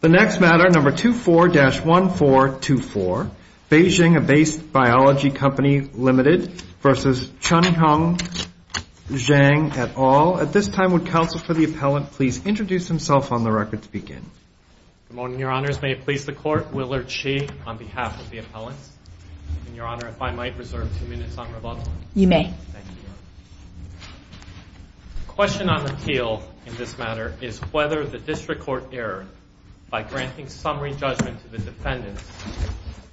The next matter, No. 24-1424, Beijing Abace Biology Co., Ltd. v. Chen Hongzhang, et al. At this time, would counsel for the appellant please introduce himself on the record to begin? Good morning, Your Honors. May it please the Court, Willard Shi on behalf of the appellants. And, Your Honor, if I might reserve two minutes on rebuttal? You may. Thank you, Your Honor. The question on the appeal in this matter is whether the District Court erred by granting summary judgment to the defendants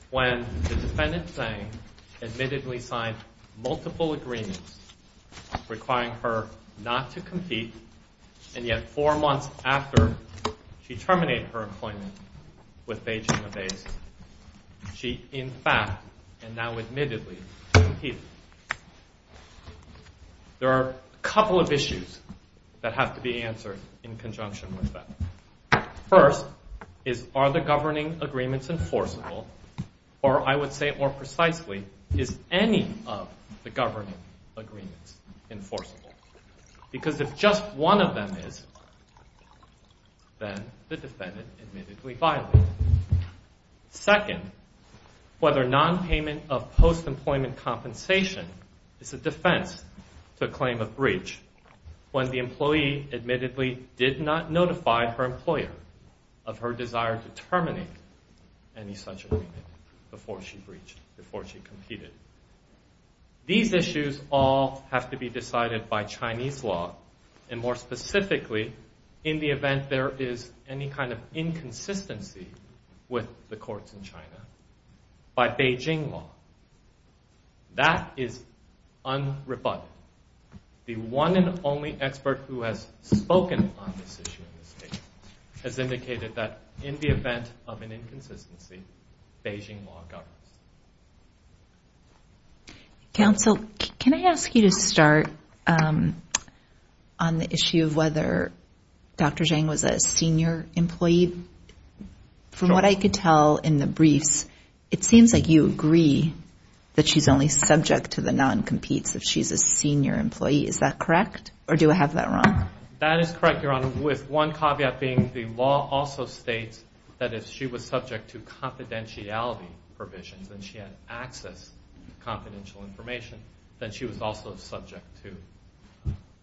when the defendant, Zhang, admittedly signed multiple agreements requiring her not to compete, and yet four months after she terminated her employment with Beijing Abace, she in fact, and now admittedly, competed. There are a couple of issues that have to be answered in conjunction with that. First, are the governing agreements enforceable? Or, I would say more precisely, is any of the governing agreements enforceable? Because if just one of them is, then the defendant admittedly violated it. Second, whether nonpayment of post-employment compensation is a defense to a claim of breach when the employee admittedly did not notify her employer of her desire to terminate any such agreement before she breached, before she competed. These issues all have to be decided by Chinese law, and more specifically, in the event there is any kind of inconsistency with the courts in China, by Beijing law. That is unrebutted. The one and only expert who has spoken on this issue in this case has indicated that in the event of an inconsistency, Beijing law governs. Counsel, can I ask you to start on the issue of whether Dr. Zhang was a senior employee? From what I could tell in the briefs, it seems like you agree that she's only subject to the non-competes if she's a senior employee. Is that correct, or do I have that wrong? That is correct, Your Honor. With one caveat being the law also states that if she was subject to confidentiality provisions, and she had access to confidential information, then she was also subject to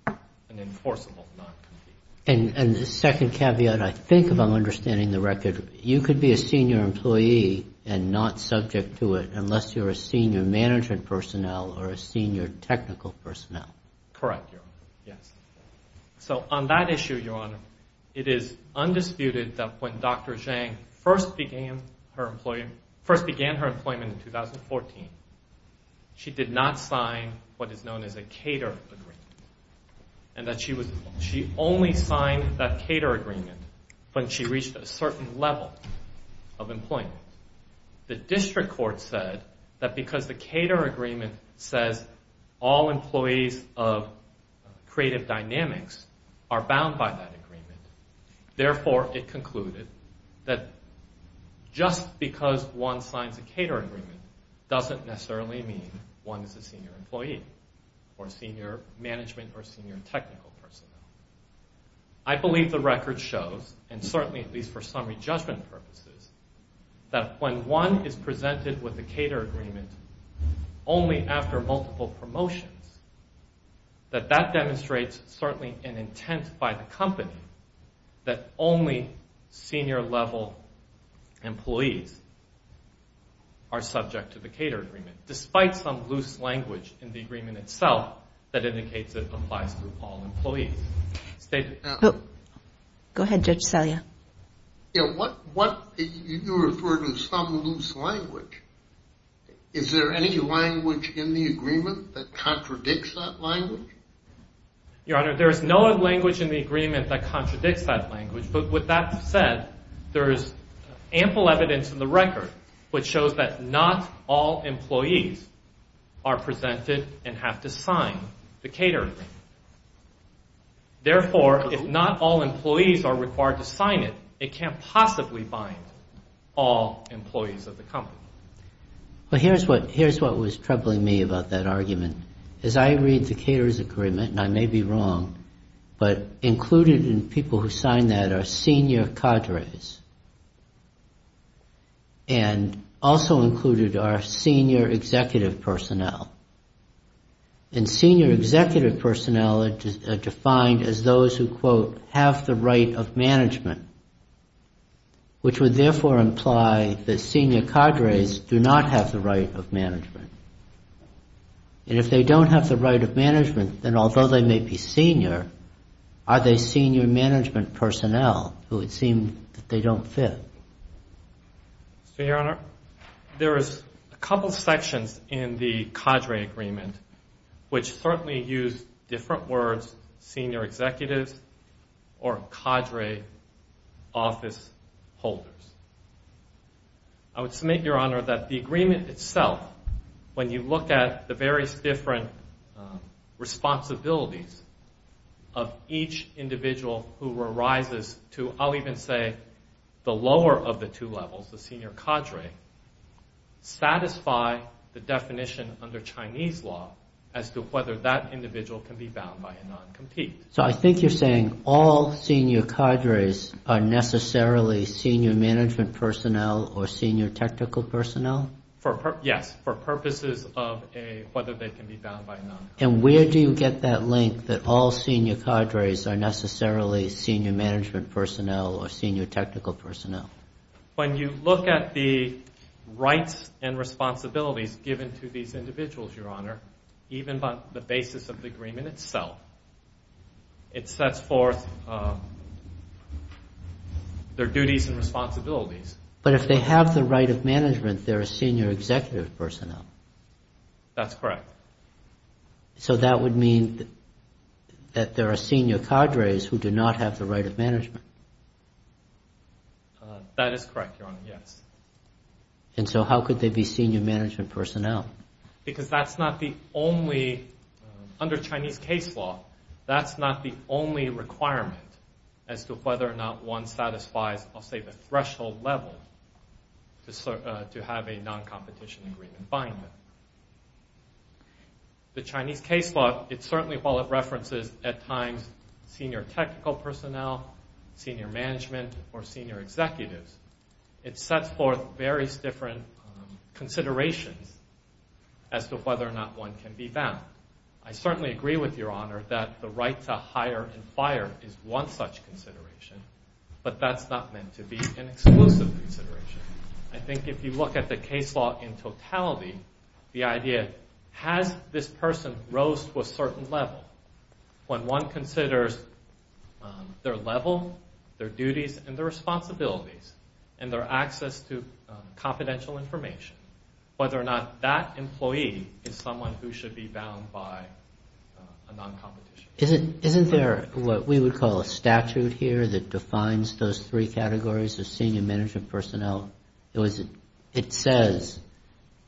an enforceable non-compete. And the second caveat, I think if I'm understanding the record, you could be a senior employee and not subject to it unless you're a senior management personnel or a senior technical personnel. Correct, Your Honor. Yes. So on that issue, Your Honor, it is undisputed that when Dr. Zhang first began her employment in 2014, she did not sign what is known as a cater agreement, and that she only signed that cater agreement when she reached a certain level of employment. The district court said that because the cater agreement says all employees of Creative Dynamics are bound by that agreement, therefore it concluded that just because one signs a cater agreement doesn't necessarily mean one is a senior employee or senior management or senior technical personnel. I believe the record shows, and certainly at least for summary judgment purposes, that when one is presented with a cater agreement only after multiple promotions, that that demonstrates certainly an intent by the company that only senior level employees are subject to the cater agreement, despite some loose language in the agreement itself that indicates it applies to all employees. Go ahead, Judge Salia. You referred to some loose language. Is there any language in the agreement that contradicts that language? Your Honor, there is no language in the agreement that contradicts that language, but with that said, there is ample evidence in the record which shows that not all employees are presented and have to sign the cater agreement. Therefore, if not all employees are required to sign it, it can't possibly bind all employees of the company. Well, here's what was troubling me about that argument. As I read the cater's agreement, and I may be wrong, but included in people who sign that are senior cadres, and also included are senior executive personnel. And senior executive personnel are defined as those who, quote, have the right of management, which would therefore imply that senior cadres do not have the right of management. And if they don't have the right of management, then although they may be senior, are they senior management personnel who it seems that they don't fit? Your Honor, there is a couple sections in the cadre agreement which certainly use different words, senior executives or cadre office holders. I would submit, Your Honor, that the agreement itself, when you look at the various different responsibilities of each individual who arises to, I'll even say, the lower of the two levels, the senior cadre, satisfy the definition under Chinese law as to whether that individual can be bound by a non-compete. So I think you're saying all senior cadres are necessarily senior management personnel or senior technical personnel? Yes, for purposes of whether they can be bound by a non-compete. And where do you get that link that all senior cadres are necessarily senior management personnel or senior technical personnel? When you look at the rights and responsibilities given to these individuals, Your Honor, even on the basis of the agreement itself, it sets forth their duties and responsibilities. But if they have the right of management, they're senior executive personnel. That's correct. So that would mean that there are senior cadres who do not have the right of management. That is correct, Your Honor, yes. And so how could they be senior management personnel? Because that's not the only, under Chinese case law, that's not the only requirement as to whether or not one satisfies, I'll say, the threshold level to have a non-competition agreement binding. The Chinese case law, it certainly, while it references at times senior technical personnel, senior management, or senior executives, it sets forth various different considerations as to whether or not one can be bound. I certainly agree with Your Honor that the right to hire and fire is one such consideration, but that's not meant to be an exclusive consideration. I think if you look at the case law in totality, the idea has this person rose to a certain level? When one considers their level, their duties, and their responsibilities, and their access to confidential information, whether or not that employee is someone who should be bound by a non-competition agreement. Isn't there what we would call a statute here that defines those three categories of senior management personnel? It says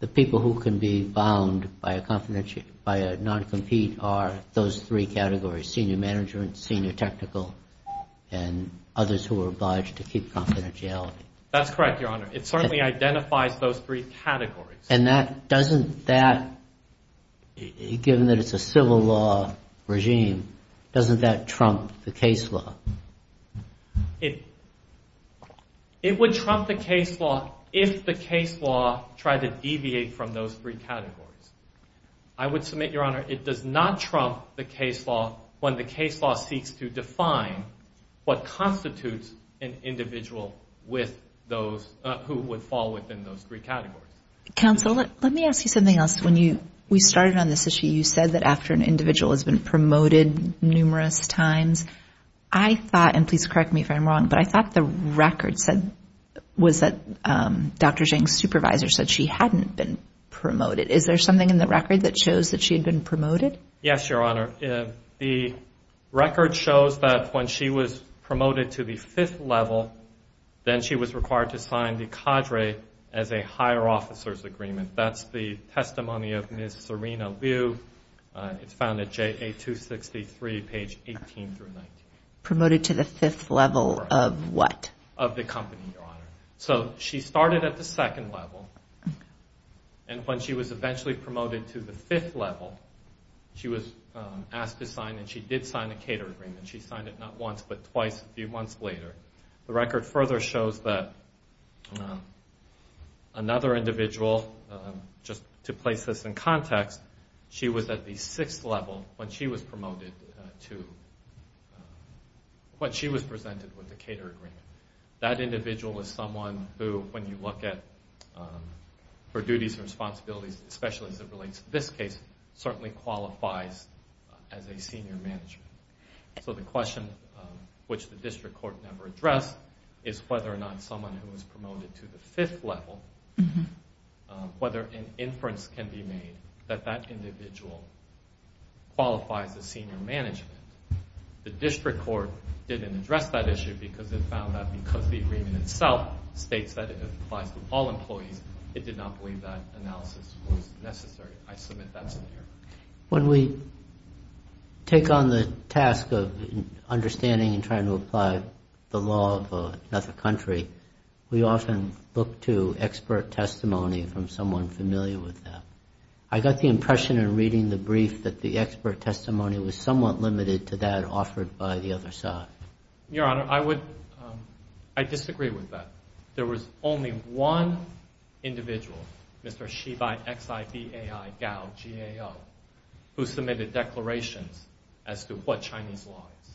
the people who can be bound by a non-compete are those three categories, senior management, senior technical, and others who are obliged to keep confidentiality. That's correct, Your Honor. It certainly identifies those three categories. And that, doesn't that, given that it's a civil law regime, doesn't that trump the case law? It would trump the case law if the case law tried to deviate from those three categories. I would submit, Your Honor, it does not trump the case law when the case law seeks to define what constitutes an individual who would fall within those three categories. Counsel, let me ask you something else. When we started on this issue, you said that after an individual has been promoted numerous times. I thought, and please correct me if I'm wrong, but I thought the record said was that Dr. Zhang's supervisor said she hadn't been promoted. Is there something in the record that shows that she had been promoted? Yes, Your Honor. The record shows that when she was promoted to the fifth level, then she was required to sign the cadre as a higher officer's agreement. That's the testimony of Ms. Serena Liu. It's found at JA-263, page 18 through 19. Promoted to the fifth level of what? Of the company, Your Honor. So she started at the second level, and when she was eventually promoted to the fifth level, she was asked to sign, and she did sign a cadre agreement. She signed it not once, but twice a few months later. The record further shows that another individual, just to place this in context, she was at the sixth level when she was presented with the cadre agreement. That individual is someone who, when you look at her duties and responsibilities, especially as it relates to this case, certainly qualifies as a senior manager. The question, which the district court never addressed, is whether or not someone who was promoted to the fifth level, whether an inference can be made that that individual qualifies as senior management. The district court didn't address that issue because it found that because the agreement itself states that it applies to all employees, it did not believe that analysis was necessary. I submit that's an error. When we take on the task of understanding and trying to apply the law of another country, we often look to expert testimony from someone familiar with that. I got the impression in reading the brief that the expert testimony was somewhat limited to that offered by the other side. Your Honor, I disagree with that. There was only one individual, Mr. Shibai, X-I-B-A-I, Gao, G-A-O, who submitted declarations as to what Chinese law is.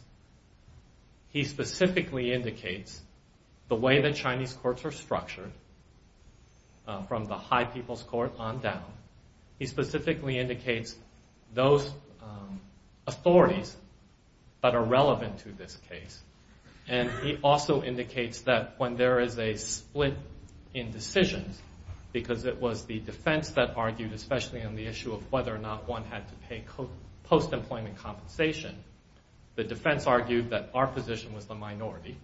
He specifically indicates the way that Chinese courts are structured from the high people's court on down. He specifically indicates those authorities that are relevant to this case. He also indicates that when there is a split in decisions, because it was the defense that argued, especially on the issue of whether or not one had to pay post-employment compensation, the defense argued that our position was the minority,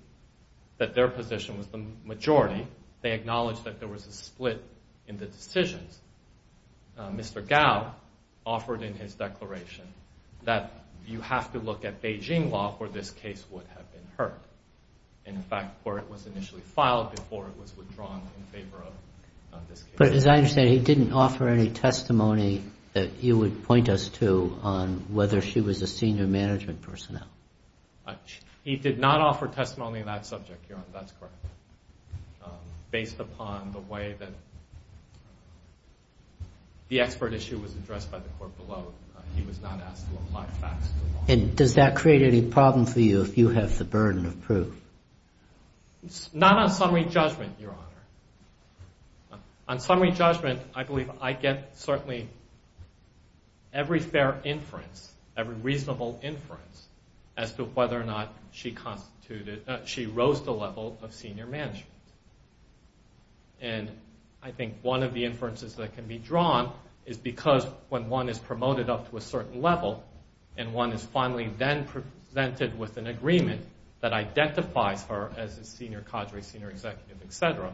that their position was the majority. They acknowledged that there was a split in the decisions. Mr. Gao offered in his declaration that you have to look at Beijing law before this case would have been heard. In fact, court was initially filed before it was withdrawn in favor of this case. But as I understand, he didn't offer any testimony that you would point us to on whether she was a senior management personnel. He did not offer testimony on that subject, Your Honor. That's correct. Based upon the way that the expert issue was addressed by the court below, he was not asked to apply facts. Does that create any problem for you if you have the burden of proof? Not on summary judgment, Your Honor. On summary judgment, I believe I get certainly every fair inference, every reasonable inference as to whether or not she rose to the level of senior management. I think one of the inferences that can be drawn is because when one is promoted up to a certain level and one is finally then presented with an agreement that identifies her as a senior cadre, senior executive, et cetera,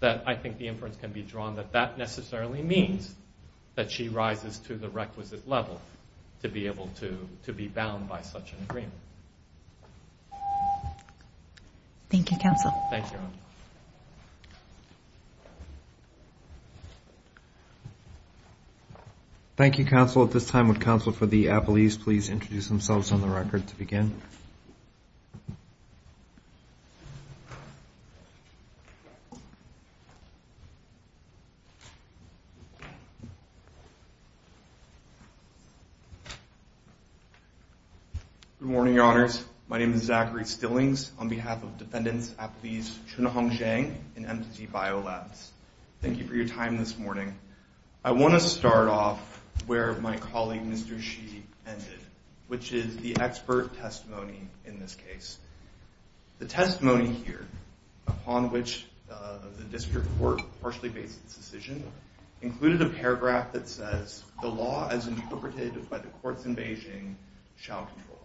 that I think the inference can be drawn that that necessarily means that she rises to the requisite level to be able to be bound by such an agreement. Thank you, counsel. Thank you, Your Honor. Thank you, counsel. At this time, would counsel for the appellees please introduce themselves on the record to begin? Good morning, Your Honors. My name is Zachary Stillings. On behalf of defendants, appellees, Chunhong Zhang and MTC BioLabs, thank you for your time this morning. I want to start off where my colleague, Mr. Shi, ended, which is the expert testimony in this case. The testimony here, upon which the district court partially based its decision, included a paragraph that says, the law as interpreted by the courts in Beijing shall control.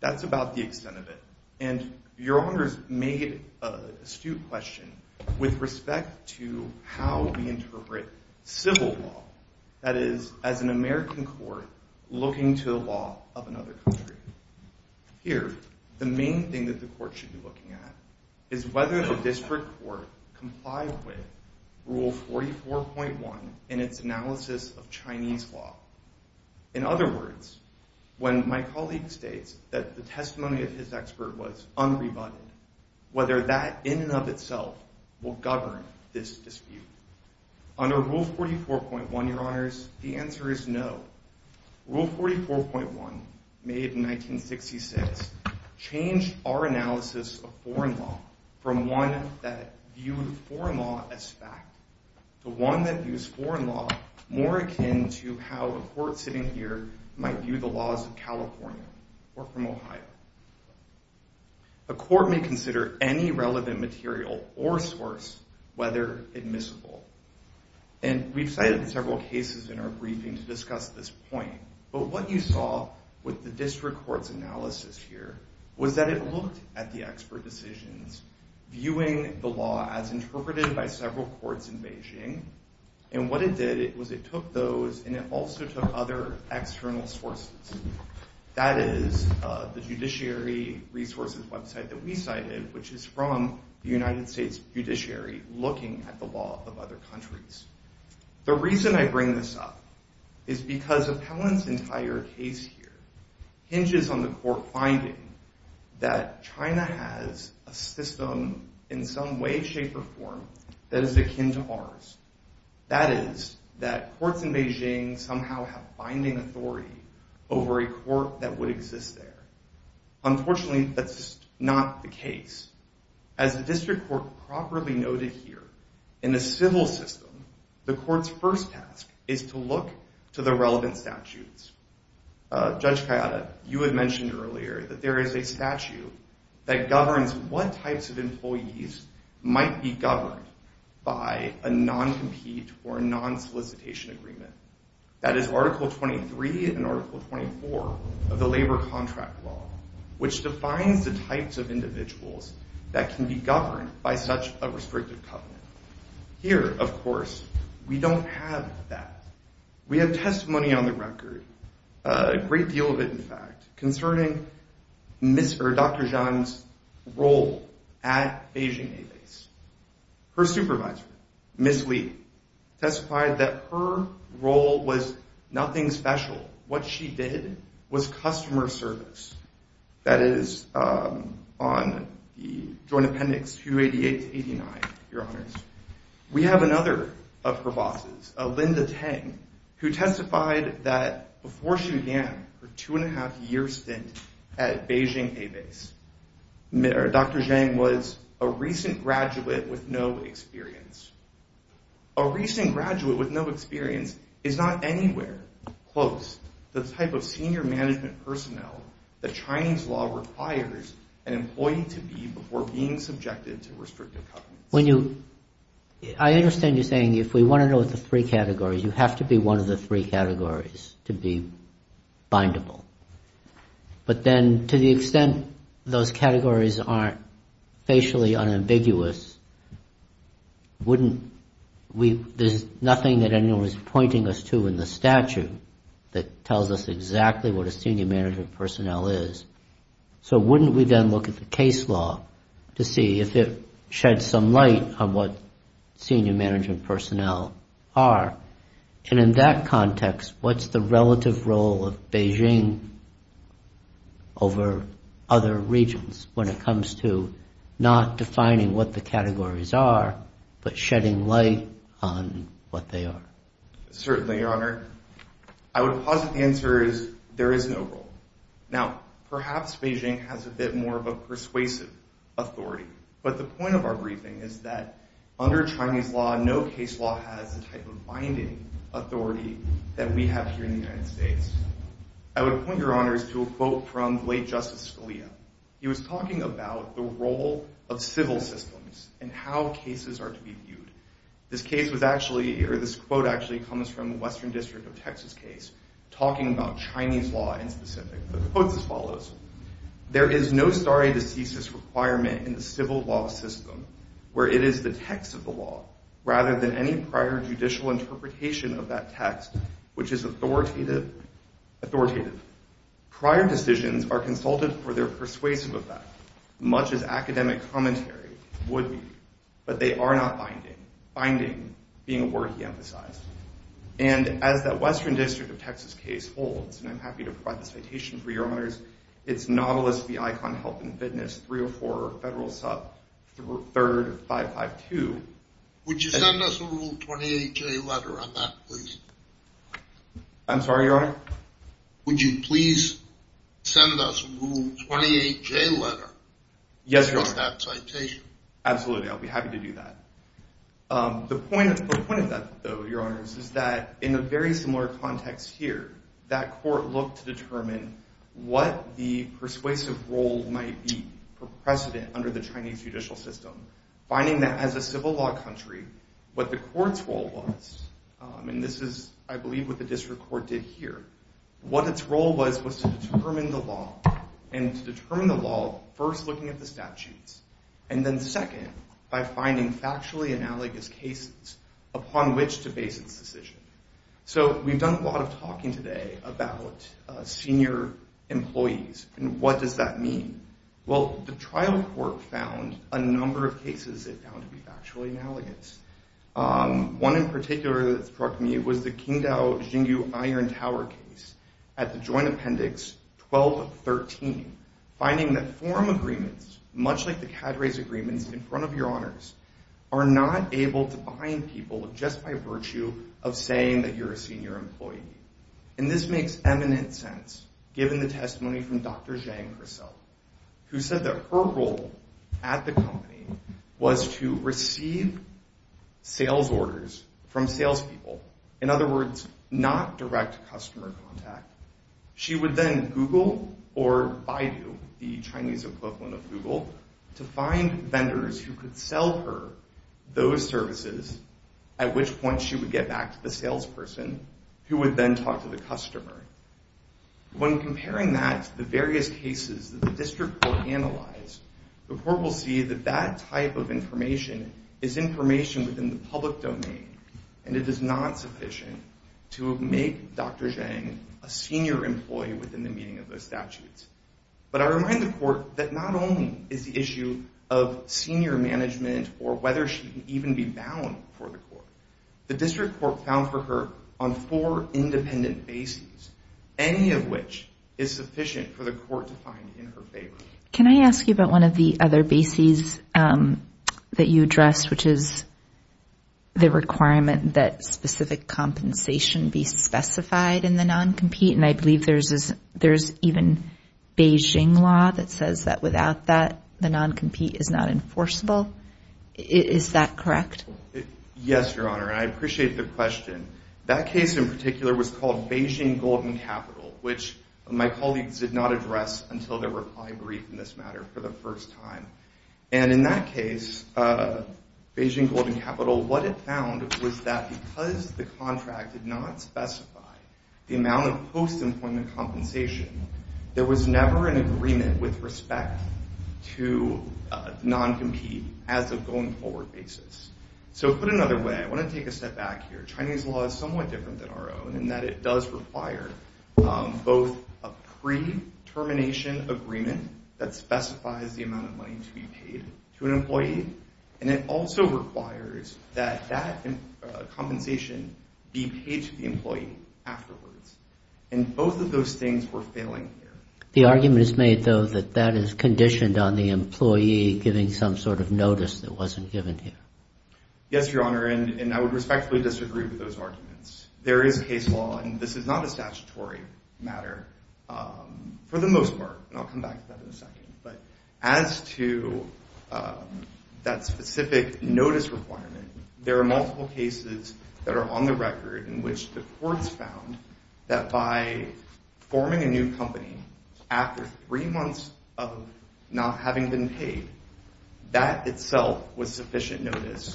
That's about the extent of it, and Your Honors made an astute question with respect to how we interpret civil law, that is, as an American court looking to the law of another country. Here, the main thing that the court should be looking at is whether the district court complied with Rule 44.1 in its analysis of Chinese law. In other words, when my colleague states that the testimony of his expert was unrebutted, whether that in and of itself will govern this dispute. Under Rule 44.1, Your Honors, the answer is no. Rule 44.1, made in 1966, changed our analysis of foreign law from one that viewed foreign law as fact to one that views foreign law more akin to how a court sitting here might view the laws of California or from Ohio. A court may consider any relevant material or source whether admissible. And we've cited several cases in our briefing to discuss this point, but what you saw with the district court's analysis here was that it looked at the expert decisions, viewing the law as interpreted by several courts in Beijing, and what it did was it took those and it also took other external sources. That is, the Judiciary Resources website that we cited, which is from the United States Judiciary, looking at the law of other countries. The reason I bring this up is because Appellant's entire case here hinges on the court finding that China has a system in some way, shape, or form that is akin to ours. That is, that courts in Beijing somehow have binding authority over a court that would exist there. Unfortunately, that's not the case. As the district court properly noted here, in the civil system, the court's first task is to look to the relevant statutes. Judge Kayada, you had mentioned earlier that there is a statute that governs what types of employees might be governed by a non-compete or non-solicitation agreement. That is Article 23 and Article 24 of the Labor Contract Law, which defines the types of individuals that can be governed by such a restrictive covenant. Here, of course, we don't have that. We have testimony on the record, a great deal of it, in fact, concerning Dr. Zhang's role at Beijing A-Base. Her supervisor, Ms. Li, testified that her role was nothing special. What she did was customer service. That is on the Joint Appendix 288 to 289, Your Honors. We have another of her bosses, Linda Tang, who testified that before she began her two-and-a-half-year stint at Beijing A-Base, Dr. Zhang was a recent graduate with no experience. A recent graduate with no experience is not anywhere close to the type of senior management personnel that Chinese law requires an employee to be before being subjected to restrictive covenants. I understand you're saying if we want to know the three categories, you have to be one of the three categories to be bindable. But then to the extent those categories aren't facially unambiguous, there's nothing that anyone is pointing us to in the statute that tells us exactly what a senior management personnel is. So wouldn't we then look at the case law to see if it sheds some light on what senior management personnel are? And in that context, what's the relative role of Beijing over other regions when it comes to not defining what the categories are, but shedding light on what they are? Certainly, Your Honor. I would posit the answer is there is no role. Now, perhaps Beijing has a bit more of a persuasive authority. But the point of our briefing is that under Chinese law, no case law has the type of binding authority that we have here in the United States. I would point Your Honors to a quote from the late Justice Scalia. He was talking about the role of civil systems and how cases are to be viewed. This case was actually, or this quote actually comes from in the Western District of Texas case, talking about Chinese law in specific. The quote is as follows. There is no stare decisis requirement in the civil law system where it is the text of the law rather than any prior judicial interpretation of that text, which is authoritative. Prior decisions are consulted for their persuasive effect, much as academic commentary would be. But they are not binding. Binding being a word he emphasized. And as that Western District of Texas case holds, and I'm happy to provide the citation for Your Honors, it's Nautilus v. Icahn Health and Fitness 304 Federal Sub 3rd 552. Would you send us a Rule 28J letter on that, please? I'm sorry, Your Honor? Would you please send us a Rule 28J letter? Yes, Your Honor. Absolutely. I'll be happy to do that. The point of that, though, Your Honors, is that in a very similar context here, that court looked to determine what the persuasive role might be for precedent under the Chinese judicial system, finding that as a civil law country, what the court's role was, and this is, I believe, what the district court did here, what its role was was to determine the law. And to determine the law, first looking at the statutes, and then, second, by finding factually analogous cases upon which to base its decision. So we've done a lot of talking today about senior employees and what does that mean. Well, the trial court found a number of cases it found to be factually analogous. One in particular that struck me was the Qingdao Xingu Iron Tower case at the Joint Appendix 1213, finding that forum agreements, much like the Cadre's agreements in front of Your Honors, are not able to bind people just by virtue of saying that you're a senior employee. And this makes eminent sense, given the testimony from Dr. Zhang herself, who said that her role at the company was to receive sales orders from salespeople, in other words, not direct customer contact. She would then Google or Baidu, the Chinese equivalent of Google, to find vendors who could sell her those services, at which point she would get back to the salesperson, who would then talk to the customer. When comparing that to the various cases that the district court analyzed, the court will see that that type of information is information within the public domain, and it is not sufficient to make Dr. Zhang a senior employee within the meaning of those statutes. But I remind the court that not only is the issue of senior management or whether she can even be bound for the court, the district court found for her on four independent bases, any of which is sufficient for the court to find in her favor. Can I ask you about one of the other bases that you addressed, which is the requirement that specific compensation be specified in the non-compete, and I believe there's even Beijing law that says that without that, the non-compete is not enforceable. Is that correct? Yes, Your Honor, and I appreciate the question. That case in particular was called Beijing Golden Capital, which my colleagues did not address until their reply brief in this matter for the first time. And in that case, Beijing Golden Capital, what it found was that because the contract did not specify the amount of post-employment compensation, there was never an agreement with respect to non-compete as a going-forward basis. So put another way, I want to take a step back here. Chinese law is somewhat different than our own in that it does require both a pre-termination agreement that specifies the amount of money to be paid to an employee, and it also requires that that compensation be paid to the employee afterwards. And both of those things were failing here. The argument is made, though, that that is conditioned on the employee giving some sort of notice that wasn't given here. Yes, Your Honor, and I would respectfully disagree with those arguments. There is case law, and this is not a statutory matter, for the most part, and I'll come back to that in a second. But as to that specific notice requirement, there are multiple cases that are on the record in which the courts found that by forming a new company after three months of not having been paid, that itself was sufficient notice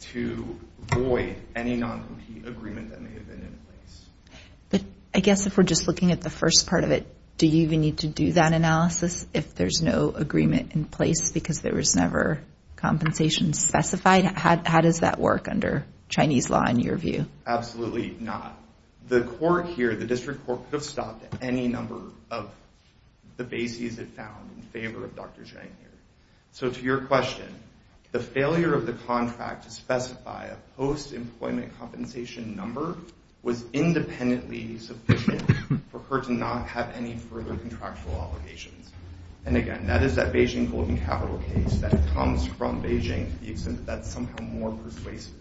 to void any non-compete agreement that may have been in place. But I guess if we're just looking at the first part of it, do you even need to do that analysis if there's no agreement in place because there was never compensation specified? How does that work under Chinese law, in your view? Absolutely not. The court here, the district court, could have stopped any number of the bases it found in favor of Dr. Zhang here. So to your question, the failure of the contract to specify a post-employment compensation number was independently sufficient for her to not have any further contractual obligations. And again, that is that Beijing Golden Capital case that comes from Beijing. That's somehow more persuasive.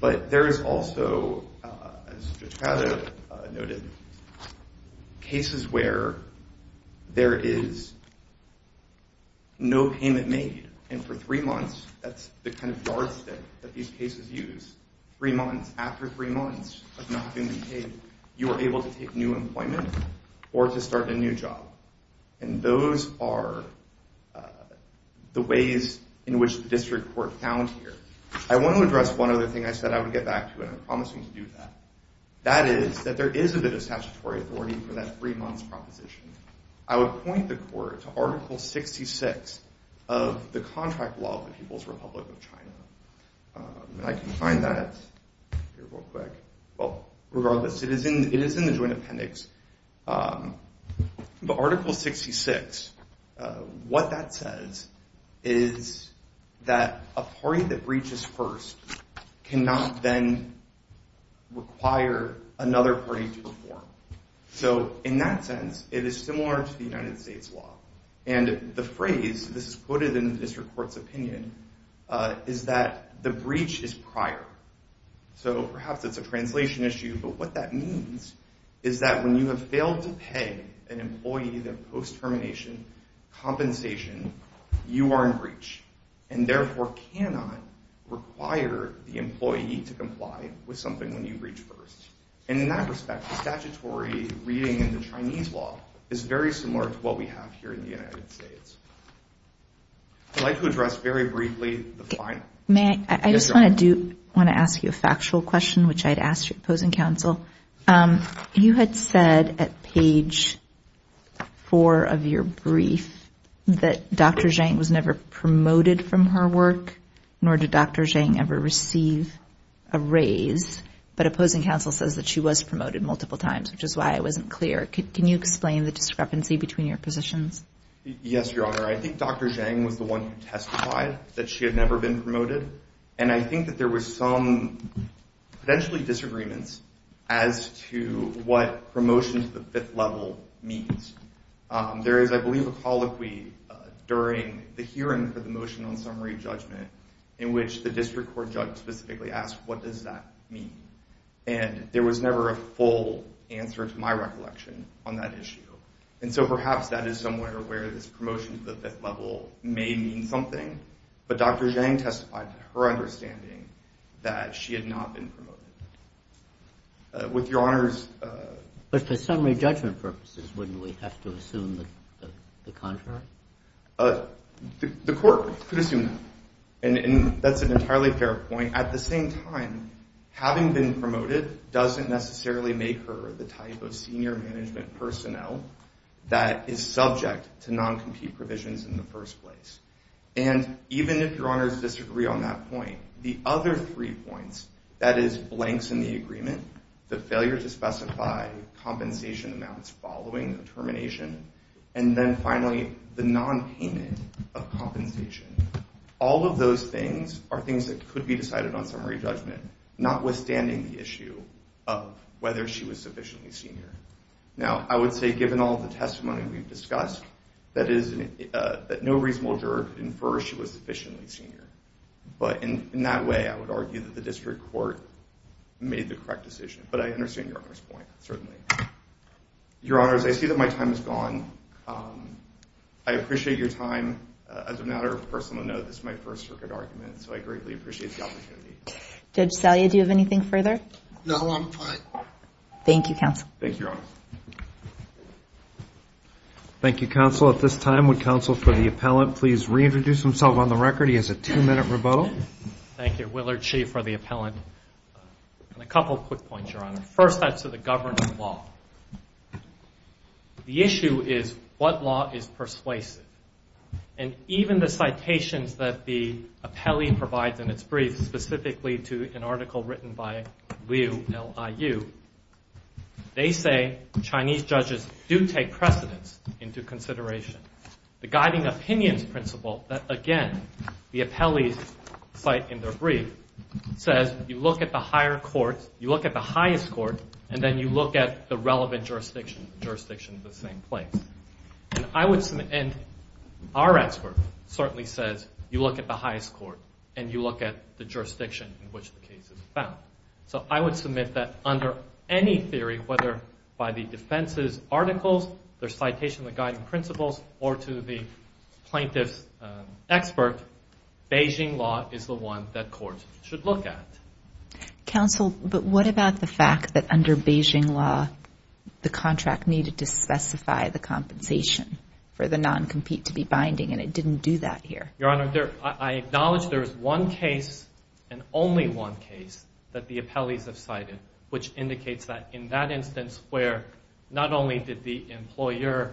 But there is also, as Judge Cato noted, cases where there is no payment made, and for three months, that's the kind of yardstick that these cases use. Three months. After three months of not being paid, you are able to take new employment or to start a new job. And those are the ways in which the district court found here. I want to address one other thing I said I would get back to, and I'm promising to do that. That is that there is a bit of statutory authority for that three-months proposition. I would point the court to Article 66 of the Contract Law of the People's Republic of China. I can find that here real quick. Well, regardless, it is in the Joint Appendix. But Article 66, what that says is that a party that breaches first cannot then require another party to perform. So in that sense, it is similar to the United States law. And the phrase, this is quoted in the district court's opinion, is that the breach is prior. So perhaps it's a translation issue, but what that means is that when you have failed to pay an employee their post-termination compensation, you are in breach, and therefore cannot require the employee to comply with something when you breach first. And in that respect, the statutory reading in the Chinese law is very similar to what we have here in the United States. I'd like to address very briefly the final. I just want to ask you a factual question, which I'd ask your opposing counsel. You had said at page 4 of your brief that Dr. Zhang was never promoted from her work, nor did Dr. Zhang ever receive a raise. But opposing counsel says that she was promoted multiple times, which is why it wasn't clear. Can you explain the discrepancy between your positions? Yes, Your Honor. I think Dr. Zhang was the one who testified that she had never been promoted. And I think that there were some potentially disagreements as to what promotion to the fifth level means. There is, I believe, a colloquy during the hearing for the motion on summary judgment in which the district court judge specifically asked, what does that mean? And there was never a full answer to my recollection on that issue. And so perhaps that is somewhere where this promotion to the fifth level may mean something. But Dr. Zhang testified to her understanding that she had not been promoted. With Your Honor's... But for summary judgment purposes, wouldn't we have to assume the contrary? The court could assume that. And that's an entirely fair point. At the same time, having been promoted doesn't necessarily make her the type of senior management personnel that is subject to non-compete provisions in the first place. And even if Your Honors disagree on that point, the other three points, that is, blanks in the agreement, the failure to specify compensation amounts following the termination, and then finally, the non-payment of compensation. All of those things are things that could be decided on summary judgment, notwithstanding the issue of whether she was sufficiently senior. Now, I would say, given all the testimony we've discussed, that no reasonable juror could infer she was sufficiently senior. But in that way, I would argue that the district court made the correct decision. But I understand Your Honor's point, certainly. Your Honors, I see that my time is gone. I appreciate your time. As a matter of personal note, this is my first circuit argument, so I greatly appreciate the opportunity. Judge Salia, do you have anything further? No, I'm fine. Thank you, Counsel. Thank you, Your Honors. Thank you, Counsel. At this time, would Counsel for the Appellant please reintroduce himself on the record? He has a two-minute rebuttal. Thank you. Willard Shea for the Appellant. A couple quick points, Your Honor. First, that's to the governing law. The issue is what law is persuasive. And even the citations that the appellee provides in its brief, specifically to an article written by Liu, L-I-U, they say Chinese judges do take precedence into consideration. The guiding opinions principle that, again, the appellees cite in their brief, says you look at the higher court, you look at the highest court, and then you look at the relevant jurisdiction, the jurisdiction in the same place. And our expert certainly says you look at the highest court and you look at the jurisdiction in which the case is found. So I would submit that under any theory, whether by the defense's articles, their citation, the guiding principles, or to the plaintiff's expert, Beijing law is the one that courts should look at. Counsel, but what about the fact that under Beijing law, the contract needed to specify the compensation for the non-compete to be binding, and it didn't do that here? Your Honor, I acknowledge there is one case and only one case that the appellees have cited, which indicates that in that instance where not only did the employer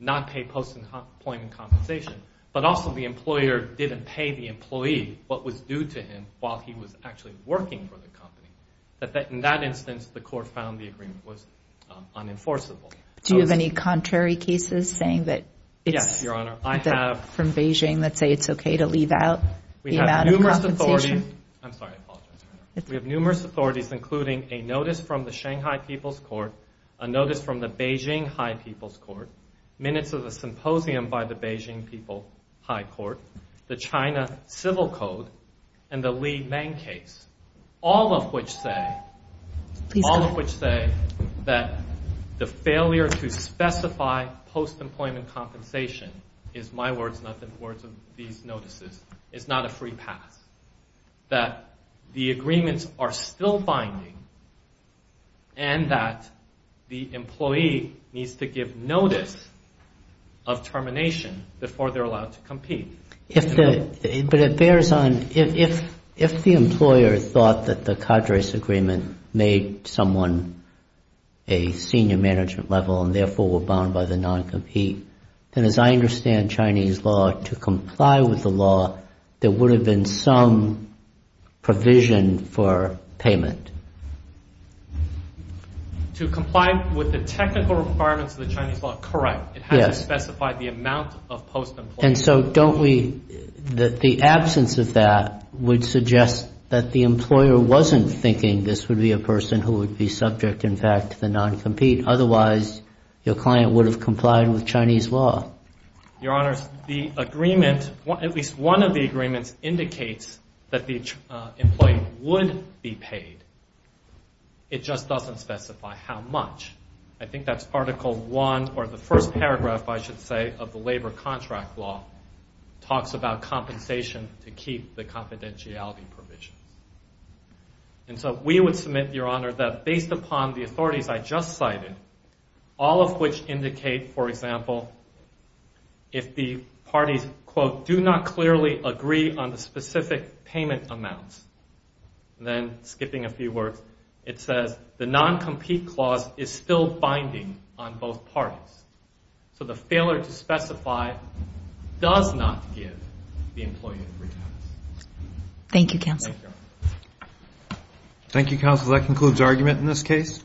not pay post-employment compensation, but also the employer didn't pay the employee what was due to him while he was actually working for the company, that in that instance the court found the agreement was unenforceable. Do you have any contrary cases saying that it's from Beijing that say it's okay to leave out the amount of compensation? I'm sorry, I apologize, Your Honor. We have numerous authorities including a notice from the Shanghai People's Court, a notice from the Beijing High People's Court, minutes of the symposium by the Beijing People High Court, the China Civil Code, and the Li Meng case, all of which say that the failure to specify post-employment compensation is my words, not the words of these notices, is not a free pass, that the agreements are still binding, and that the employee needs to give notice of termination before they're allowed to compete. But it bears on, if the employer thought that the Cadres Agreement made someone a senior management level and therefore were bound by the non-compete, then as I understand Chinese law, to comply with the law, there would have been some provision for payment. To comply with the technical requirements of the Chinese law, correct. It has to specify the amount of post-employment. And so don't we, the absence of that would suggest that the employer wasn't thinking this would be a person who would be subject, in fact, to the non-compete. Otherwise, your client would have complied with Chinese law. Your Honors, the agreement, at least one of the agreements, indicates that the employee would be paid. It just doesn't specify how much. I think that's Article I, or the first paragraph, I should say, of the Labor Contract Law, talks about compensation to keep the confidentiality provisions. And so we would submit, Your Honor, that based upon the authorities I just cited, all of which indicate, for example, if the parties, quote, do not clearly agree on the specific payment amounts, then skipping a few words, it says, the non-compete clause is still binding on both parties. So the failure to specify does not give the employee a free pass. Thank you, Counsel. Thank you, Counsel. That concludes argument in this case.